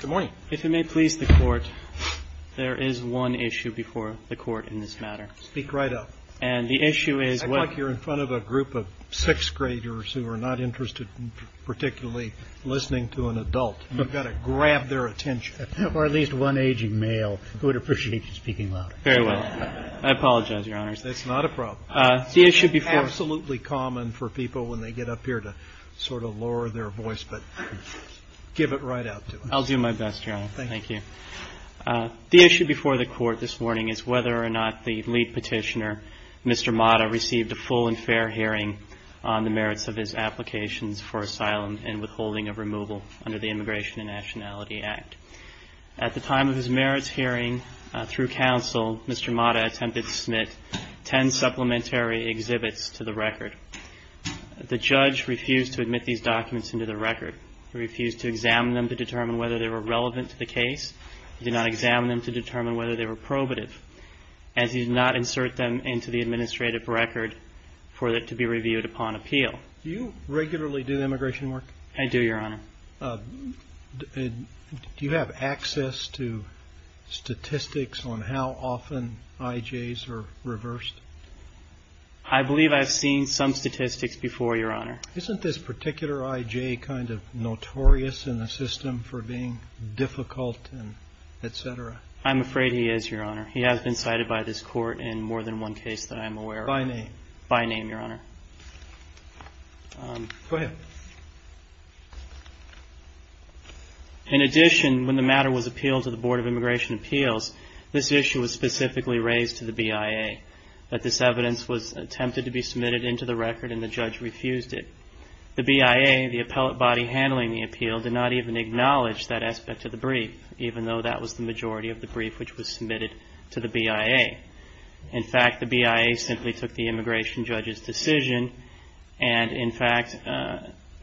Good morning. If it may please the Court, there is one issue before the Court in this matter. Speak right up. And the issue is what I feel like you're in front of a group of sixth graders who are not interested in particularly listening to an adult. You've got to grab their attention. Or at least one aging male who would appreciate you speaking louder. Very well. I apologize, Your Honors. That's not a problem. The issue before Absolutely common for people when they get up here to sort of lower their voice. But give it right out to them. I'll do my best, Your Honor. Thank you. Thank you. The issue before the Court this morning is whether or not the lead petitioner, Mr. Mata, received a full and fair hearing on the merits of his applications for asylum and withholding of removal under the Immigration and Nationality Act. At the time of his merits hearing through counsel, Mr. Mata attempted to submit ten supplementary exhibits to the record. The judge refused to admit these documents into the record. He refused to examine them to determine whether they were relevant to the case. He did not examine them to determine whether they were probative, as he did not insert them into the administrative record for it to be reviewed upon appeal. Do you regularly do the immigration work? I do, Your Honor. Do you have access to statistics on how often IJs are reversed? I believe I've seen some statistics before, Your Honor. Isn't this particular IJ kind of notorious in the system for being difficult, et cetera? I'm afraid he is, Your Honor. He has been cited by this Court in more than one case that I'm aware of. By name? By name, Your Honor. Go ahead. In addition, when the matter was appealed to the Board of Immigration Appeals, this issue was specifically raised to the BIA, that this evidence was attempted to be submitted into the record and the judge refused it. The BIA, the appellate body handling the appeal, did not even acknowledge that aspect of the brief, even though that was the majority of the brief which was submitted to the BIA. In fact, the BIA simply took the immigration judge's decision and, in fact,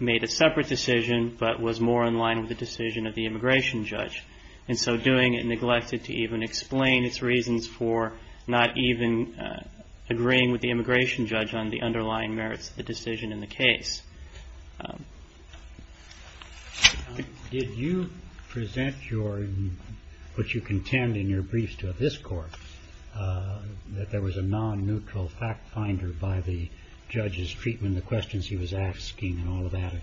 made a separate decision but was more in line with the decision of the immigration judge. And so doing it neglected to even explain its reasons for not even agreeing with the immigration judge on the underlying merits of the decision in the case. Did you present your, what you contend in your briefs to this Court, that there was a non-neutral fact finder by the judge's treatment, the questions he was asking and all of that,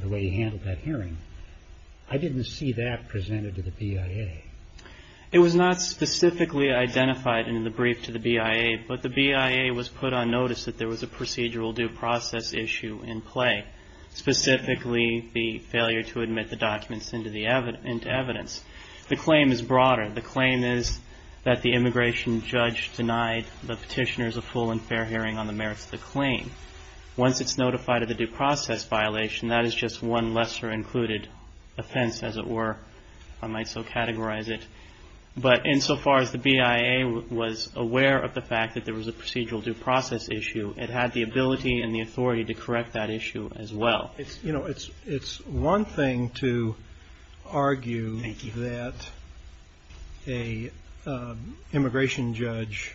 the way he handled that hearing? I didn't see that presented to the BIA. It was not specifically identified in the brief to the BIA, but the BIA was put on notice that there was a procedural due process issue in play, specifically the failure to admit the documents into evidence. The claim is broader. The claim is that the immigration judge denied the petitioners a full and fair hearing on the merits of the claim. Once it's notified of the due process violation, that is just one lesser included offense, as it were. I might so categorize it. But insofar as the BIA was aware of the fact that there was a procedural due process issue, it had the ability and the authority to correct that issue as well. You know, it's one thing to argue that an immigration judge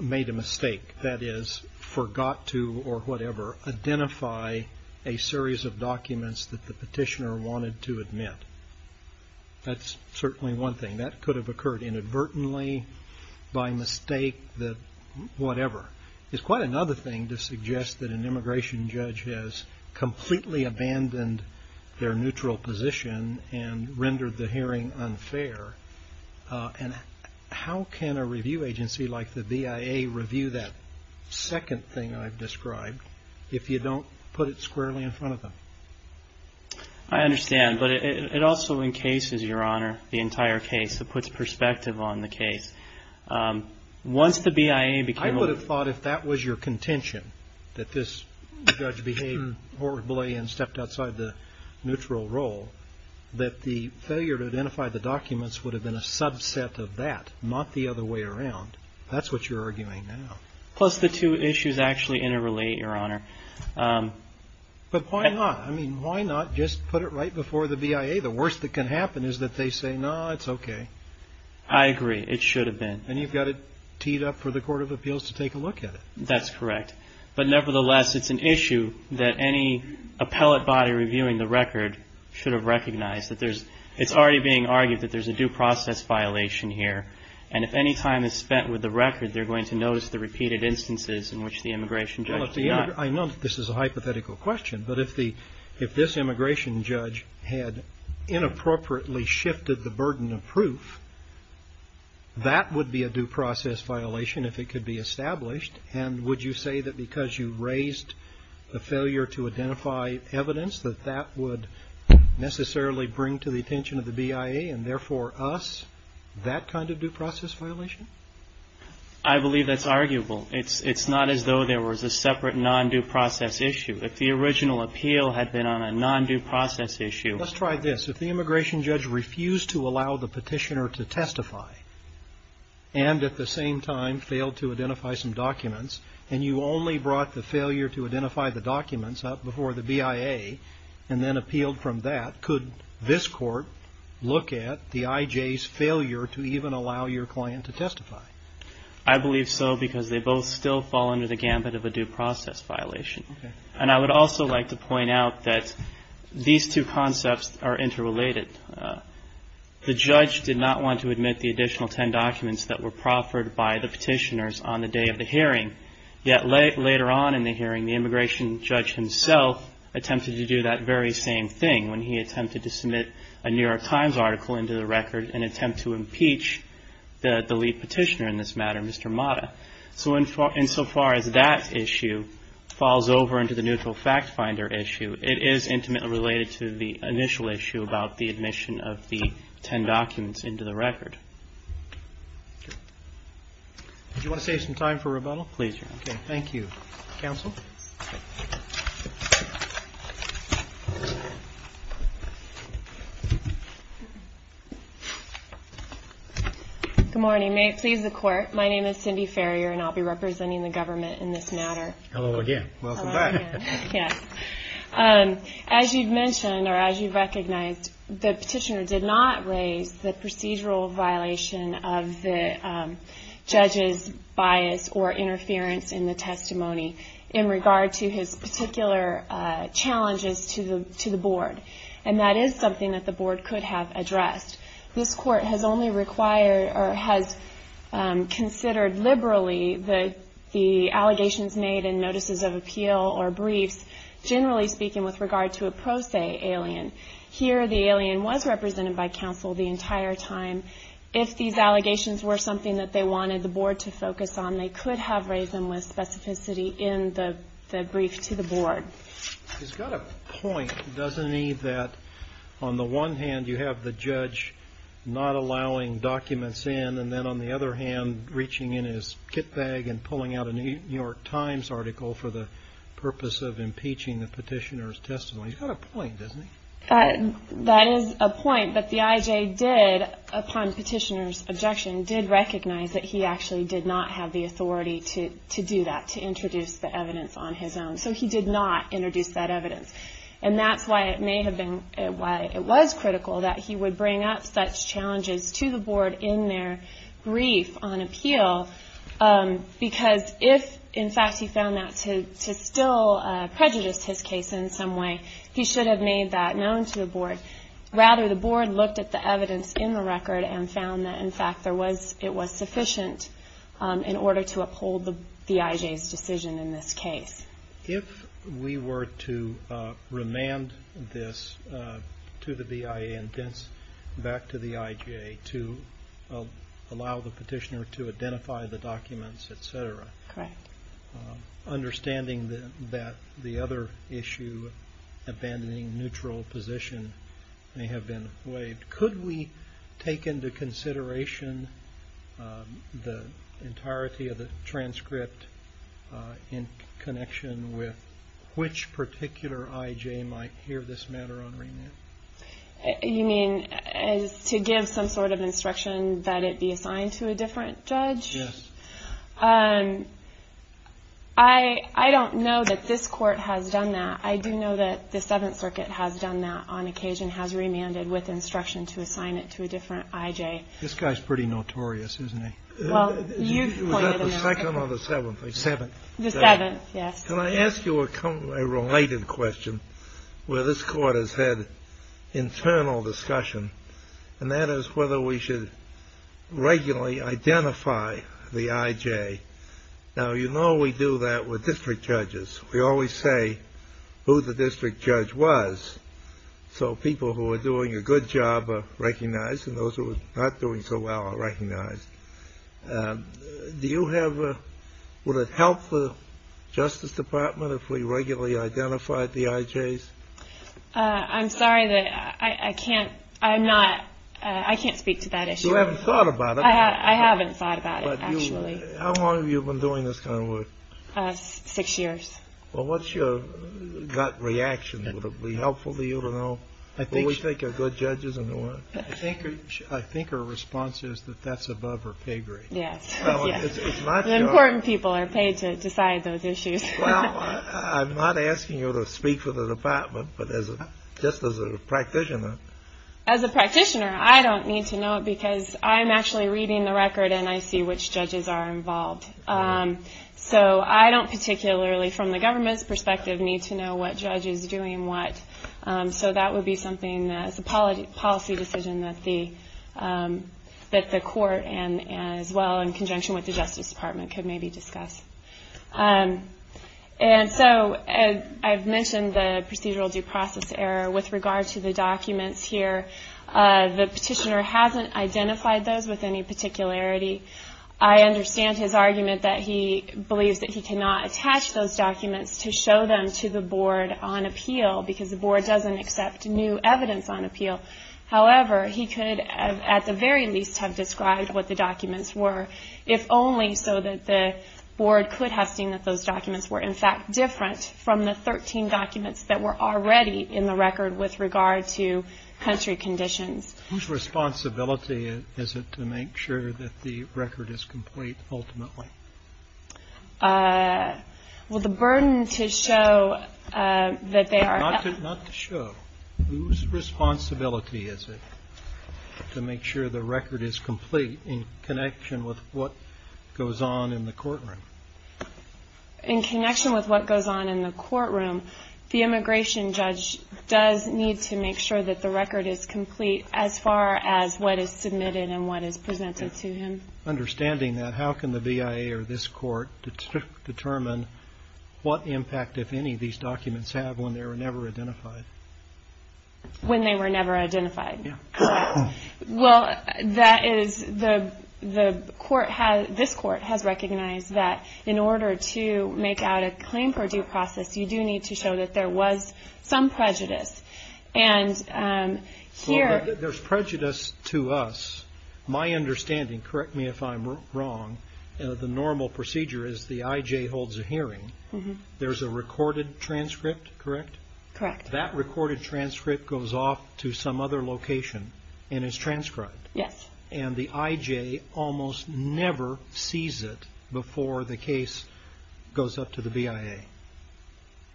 made a mistake, that is forgot to or whatever identify a series of documents that the petitioner wanted to admit. That's certainly one thing. That could have occurred inadvertently by mistake, whatever. It's quite another thing to suggest that an immigration judge has completely abandoned their neutral position and rendered the hearing unfair. And how can a review agency like the BIA review that second thing I've described if you don't put it squarely in front of them? I understand. But it also encases, Your Honor, the entire case. It puts perspective on the case. Once the BIA became open. I would have thought if that was your contention, that this judge behaved horribly and stepped outside the neutral role, that the failure to identify the documents would have been a subset of that, not the other way around. That's what you're arguing now. Plus the two issues actually interrelate, Your Honor. But why not? I mean, why not just put it right before the BIA? The worst that can happen is that they say, no, it's okay. I agree. It should have been. And you've got it teed up for the Court of Appeals to take a look at it. That's correct. But nevertheless, it's an issue that any appellate body reviewing the record should have recognized. It's already being argued that there's a due process violation here. And if any time is spent with the record, they're going to notice the repeated instances in which the immigration judge did not. I know that this is a hypothetical question, but if this immigration judge had inappropriately shifted the burden of proof, that would be a due process violation if it could be established. And would you say that because you raised a failure to identify evidence, that that would necessarily bring to the attention of the BIA, and therefore us, that kind of due process violation? I believe that's arguable. It's not as though there was a separate non-due process issue. If the original appeal had been on a non-due process issue. Let's try this. If the immigration judge refused to allow the petitioner to testify, and at the same time failed to identify some documents, and you only brought the failure to identify the documents up before the BIA, and then appealed from that, could this court look at the IJ's failure to even allow your client to testify? I believe so because they both still fall under the gambit of a due process violation. And I would also like to point out that these two concepts are interrelated. The judge did not want to admit the additional ten documents that were proffered by the petitioners on the day of the hearing. Yet later on in the hearing, the immigration judge himself attempted to do that very same thing when he attempted to submit a New York Times article into the record in an attempt to impeach the lead petitioner in this matter, Mr. Mata. So insofar as that issue falls over into the neutral fact finder issue, it is intimately related to the initial issue about the admission of the ten documents into the record. Do you want to save some time for rebuttal? Please, Your Honor. Thank you. Counsel? Good morning. May it please the court, my name is Cindy Farrier and I'll be representing the government in this matter. Hello again. Welcome back. Yes. As you've mentioned or as you've recognized, the petitioner did not raise the procedural violation of the judge's bias or interference in the testimony in regard to his particular challenges to the board. And that is something that the board could have addressed. This court has considered liberally the allegations made in notices of appeal or briefs, generally speaking with regard to a pro se alien. Here the alien was represented by counsel the entire time. If these allegations were something that they wanted the board to focus on, they could have raised them with specificity in the brief to the board. He's got a point, doesn't he, that on the one hand you have the judge not allowing documents in and then on the other hand reaching in his kit bag and pulling out a New York Times article for the purpose of impeaching the petitioner's testimony. He's got a point, doesn't he? That is a point that the IJ did, upon petitioner's objection, did recognize that he actually did not have the authority to do that, to introduce the evidence on his own. So he did not introduce that evidence. And that's why it was critical that he would bring up such challenges to the board in their brief on appeal because if, in fact, he found that to still prejudice his case in some way, he should have made that known to the board. Rather, the board looked at the evidence in the record and found that, in fact, it was sufficient in order to uphold the IJ's decision in this case. If we were to remand this to the BIA and then back to the IJ to allow the petitioner to identify the documents, et cetera, understanding that the other issue, abandoning neutral position, may have been waived, could we take into consideration the entirety of the transcript in connection with which particular IJ might hear this matter on remand? You mean to give some sort of instruction that it be assigned to a different judge? Yes. I don't know that this Court has done that. I do know that the Seventh Circuit has done that on occasion, has remanded with instruction to assign it to a different IJ. This guy's pretty notorious, isn't he? Well, you've pointed him out. Was that the Second or the Seventh? The Seventh. The Seventh, yes. Can I ask you a related question where this Court has had internal discussion, and that is whether we should regularly identify the IJ. Now, you know we do that with district judges. We always say who the district judge was, so people who are doing a good job are recognized and those who are not doing so well are recognized. Would it help the Justice Department if we regularly identified the IJs? I'm sorry, I can't speak to that issue. You haven't thought about it? I haven't thought about it, actually. How long have you been doing this kind of work? Six years. Well, what's your gut reaction? Would it be helpful for you to know who we think are good judges and who aren't? I think her response is that that's above her pay grade. Yes. Important people are paid to decide those issues. Well, I'm not asking you to speak for the Department, but just as a practitioner. As a practitioner, I don't need to know it because I'm actually reading the record and I see which judges are involved. So I don't particularly, from the government's perspective, need to know what judge is doing what. So that would be something that's a policy decision that the Court, as well in conjunction with the Justice Department, could maybe discuss. And so I've mentioned the procedural due process error with regard to the documents here. The petitioner hasn't identified those with any particularity. I understand his argument that he believes that he cannot attach those documents to show them to the Board on appeal because the Board doesn't accept new evidence on appeal. However, he could at the very least have described what the documents were, if only so that the Board could have seen that those documents were, in fact, different from the 13 documents that were already in the record with regard to country conditions. Whose responsibility is it to make sure that the record is complete ultimately? Well, the burden to show that they are- Not to show. Whose responsibility is it to make sure the record is complete in connection with what goes on in the courtroom? In connection with what goes on in the courtroom, the immigration judge does need to make sure that the record is complete as far as what is submitted and what is presented to him. Understanding that, how can the BIA or this Court determine what impact, if any, these documents have when they were never identified? When they were never identified? Yeah. Well, that is the Court has-this Court has recognized that in order to make out a claim per due process, you do need to show that there was some prejudice. And here- Well, there's prejudice to us. My understanding, correct me if I'm wrong, the normal procedure is the IJ holds a hearing. There's a recorded transcript, correct? Correct. That recorded transcript goes off to some other location and is transcribed. Yes. And the IJ almost never sees it before the case goes up to the BIA.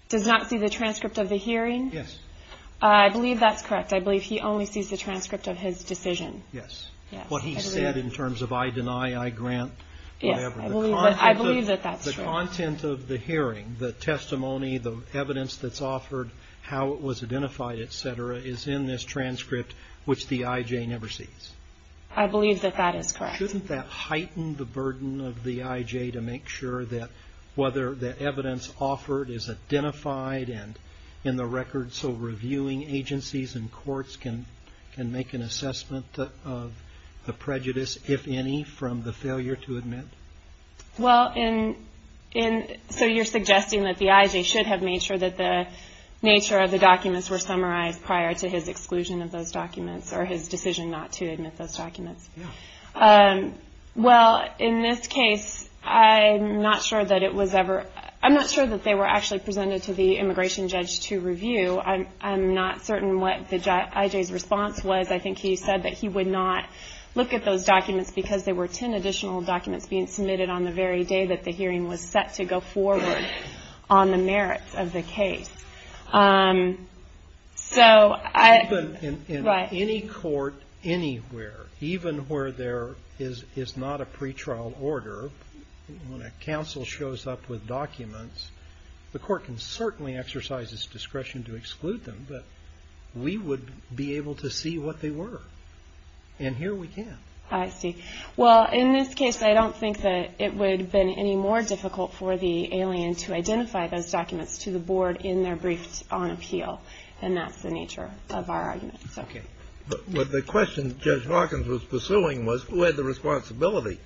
Does not see the transcript of the hearing? Yes. I believe that's correct. I believe he only sees the transcript of his decision. Yes. What he said in terms of I deny, I grant, whatever. Yes, I believe that that's true. The content of the hearing, the testimony, the evidence that's offered, how it was identified, et cetera, is in this transcript, which the IJ never sees. I believe that that is correct. Shouldn't that heighten the burden of the IJ to make sure that whether the evidence offered is identified and in the record so reviewing agencies and courts can make an assessment of the prejudice, if any, from the failure to admit? Well, so you're suggesting that the IJ should have made sure that the nature of the documents were summarized prior to his exclusion of those documents or his decision not to admit those documents. Yes. Well, in this case, I'm not sure that it was ever, I'm not sure that they were actually presented to the immigration judge to review. I'm not certain what the IJ's response was. I think he said that he would not look at those documents because there were 10 additional documents being submitted on the very day that the hearing was set to go forward on the merits of the case. So I. In any court anywhere, even where there is not a pretrial order, when a counsel shows up with documents, the court can certainly exercise its discretion to exclude them, but we would be able to see what they were. And here we can. I see. Well, in this case, I don't think that it would have been any more difficult for the alien to identify those documents to the board in their briefs on appeal. And that's the nature of our argument. Okay. But the question Judge Hawkins was pursuing was who had the responsibility.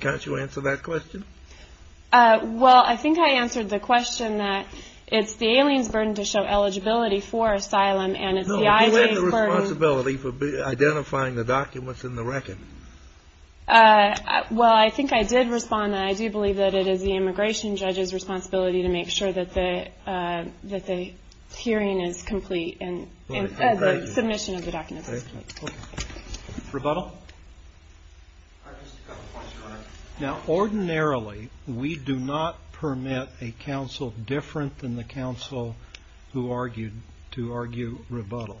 Can't you answer that question? Well, I think I answered the question that it's the alien's burden to show eligibility for asylum and it's the IJ's burden. No, you had the responsibility for identifying the documents in the record. Well, I think I did respond. I do believe that it is the immigration judge's responsibility to make sure that the hearing is complete and the submission of the documents is complete. I just have a question, Your Honor. Now, ordinarily, we do not permit a counsel different than the counsel who argued to argue rebuttal.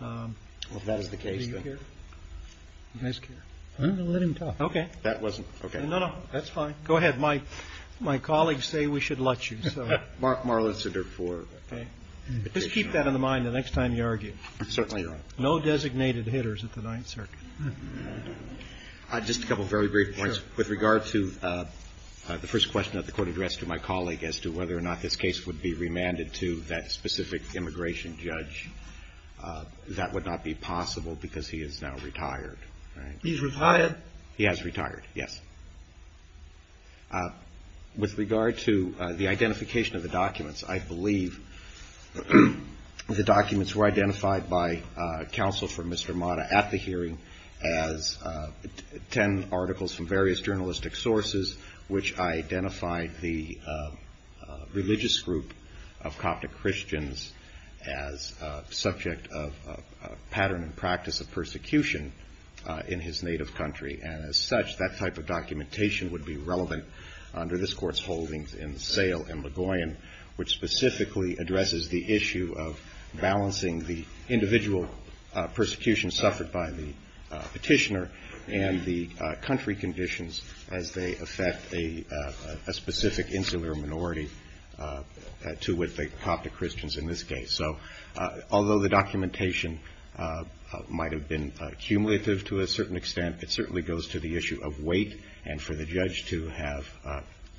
Well, if that is the case, then. Do you care? You guys care? I'm going to let him talk. Okay. That wasn't. Okay. No, no. That's fine. Go ahead. My colleagues say we should let you. Mark Marlinson, therefore. Okay. Just keep that in the mind the next time you argue. Certainly, Your Honor. No designated hitters at the Ninth Circuit. Just a couple of very brief points. With regard to the first question at the court address to my colleague as to whether or not this case would be remanded to that specific immigration judge, that would not be possible because he is now retired. He's retired? He has retired, yes. With regard to the identification of the documents, I believe the documents were identified by counsel for Mr. Mata at the hearing. As 10 articles from various journalistic sources, which identified the religious group of Coptic Christians as subject of pattern and practice of persecution in his native country. And as such, that type of documentation would be relevant under this court's holdings in Sale and Ligoyen, which specifically addresses the issue of balancing the individual persecution suffered by the petitioner and the country conditions as they affect a specific insular minority to which the Coptic Christians in this case. So although the documentation might have been cumulative to a certain extent, it certainly goes to the issue of weight and for the judge to have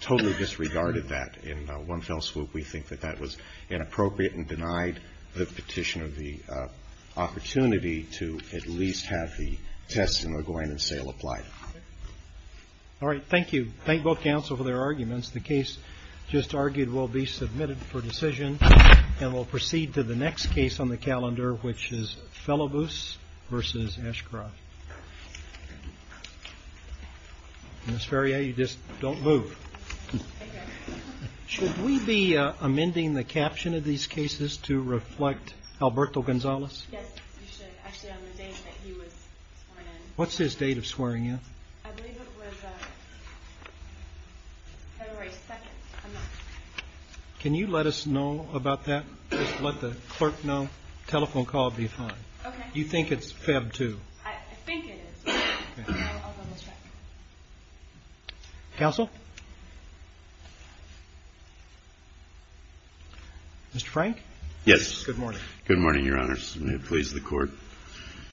totally disregarded that in one fell swoop. We think that that was inappropriate and denied the petitioner the opportunity to at least have the test in Ligoyen and Sale applied. All right. Thank you. Thank both counsel for their arguments. The case just argued will be submitted for decision and will proceed to the next case on the calendar, which is Felibus versus Ashcroft. Ms. Ferrier, you just don't move. Should we be amending the caption of these cases to reflect Alberto Gonzalez? Yes, you should. Actually, on the date that he was sworn in. What's his date of swearing in? I believe it was February 2nd. Can you let us know about that? Just let the clerk know. Telephone call will be fine. Okay. You think it's Feb 2nd? I think it is. Okay. I'll double check. Counsel? Mr. Frank? Yes. Good morning. Good morning, Your Honors. May it please the Court.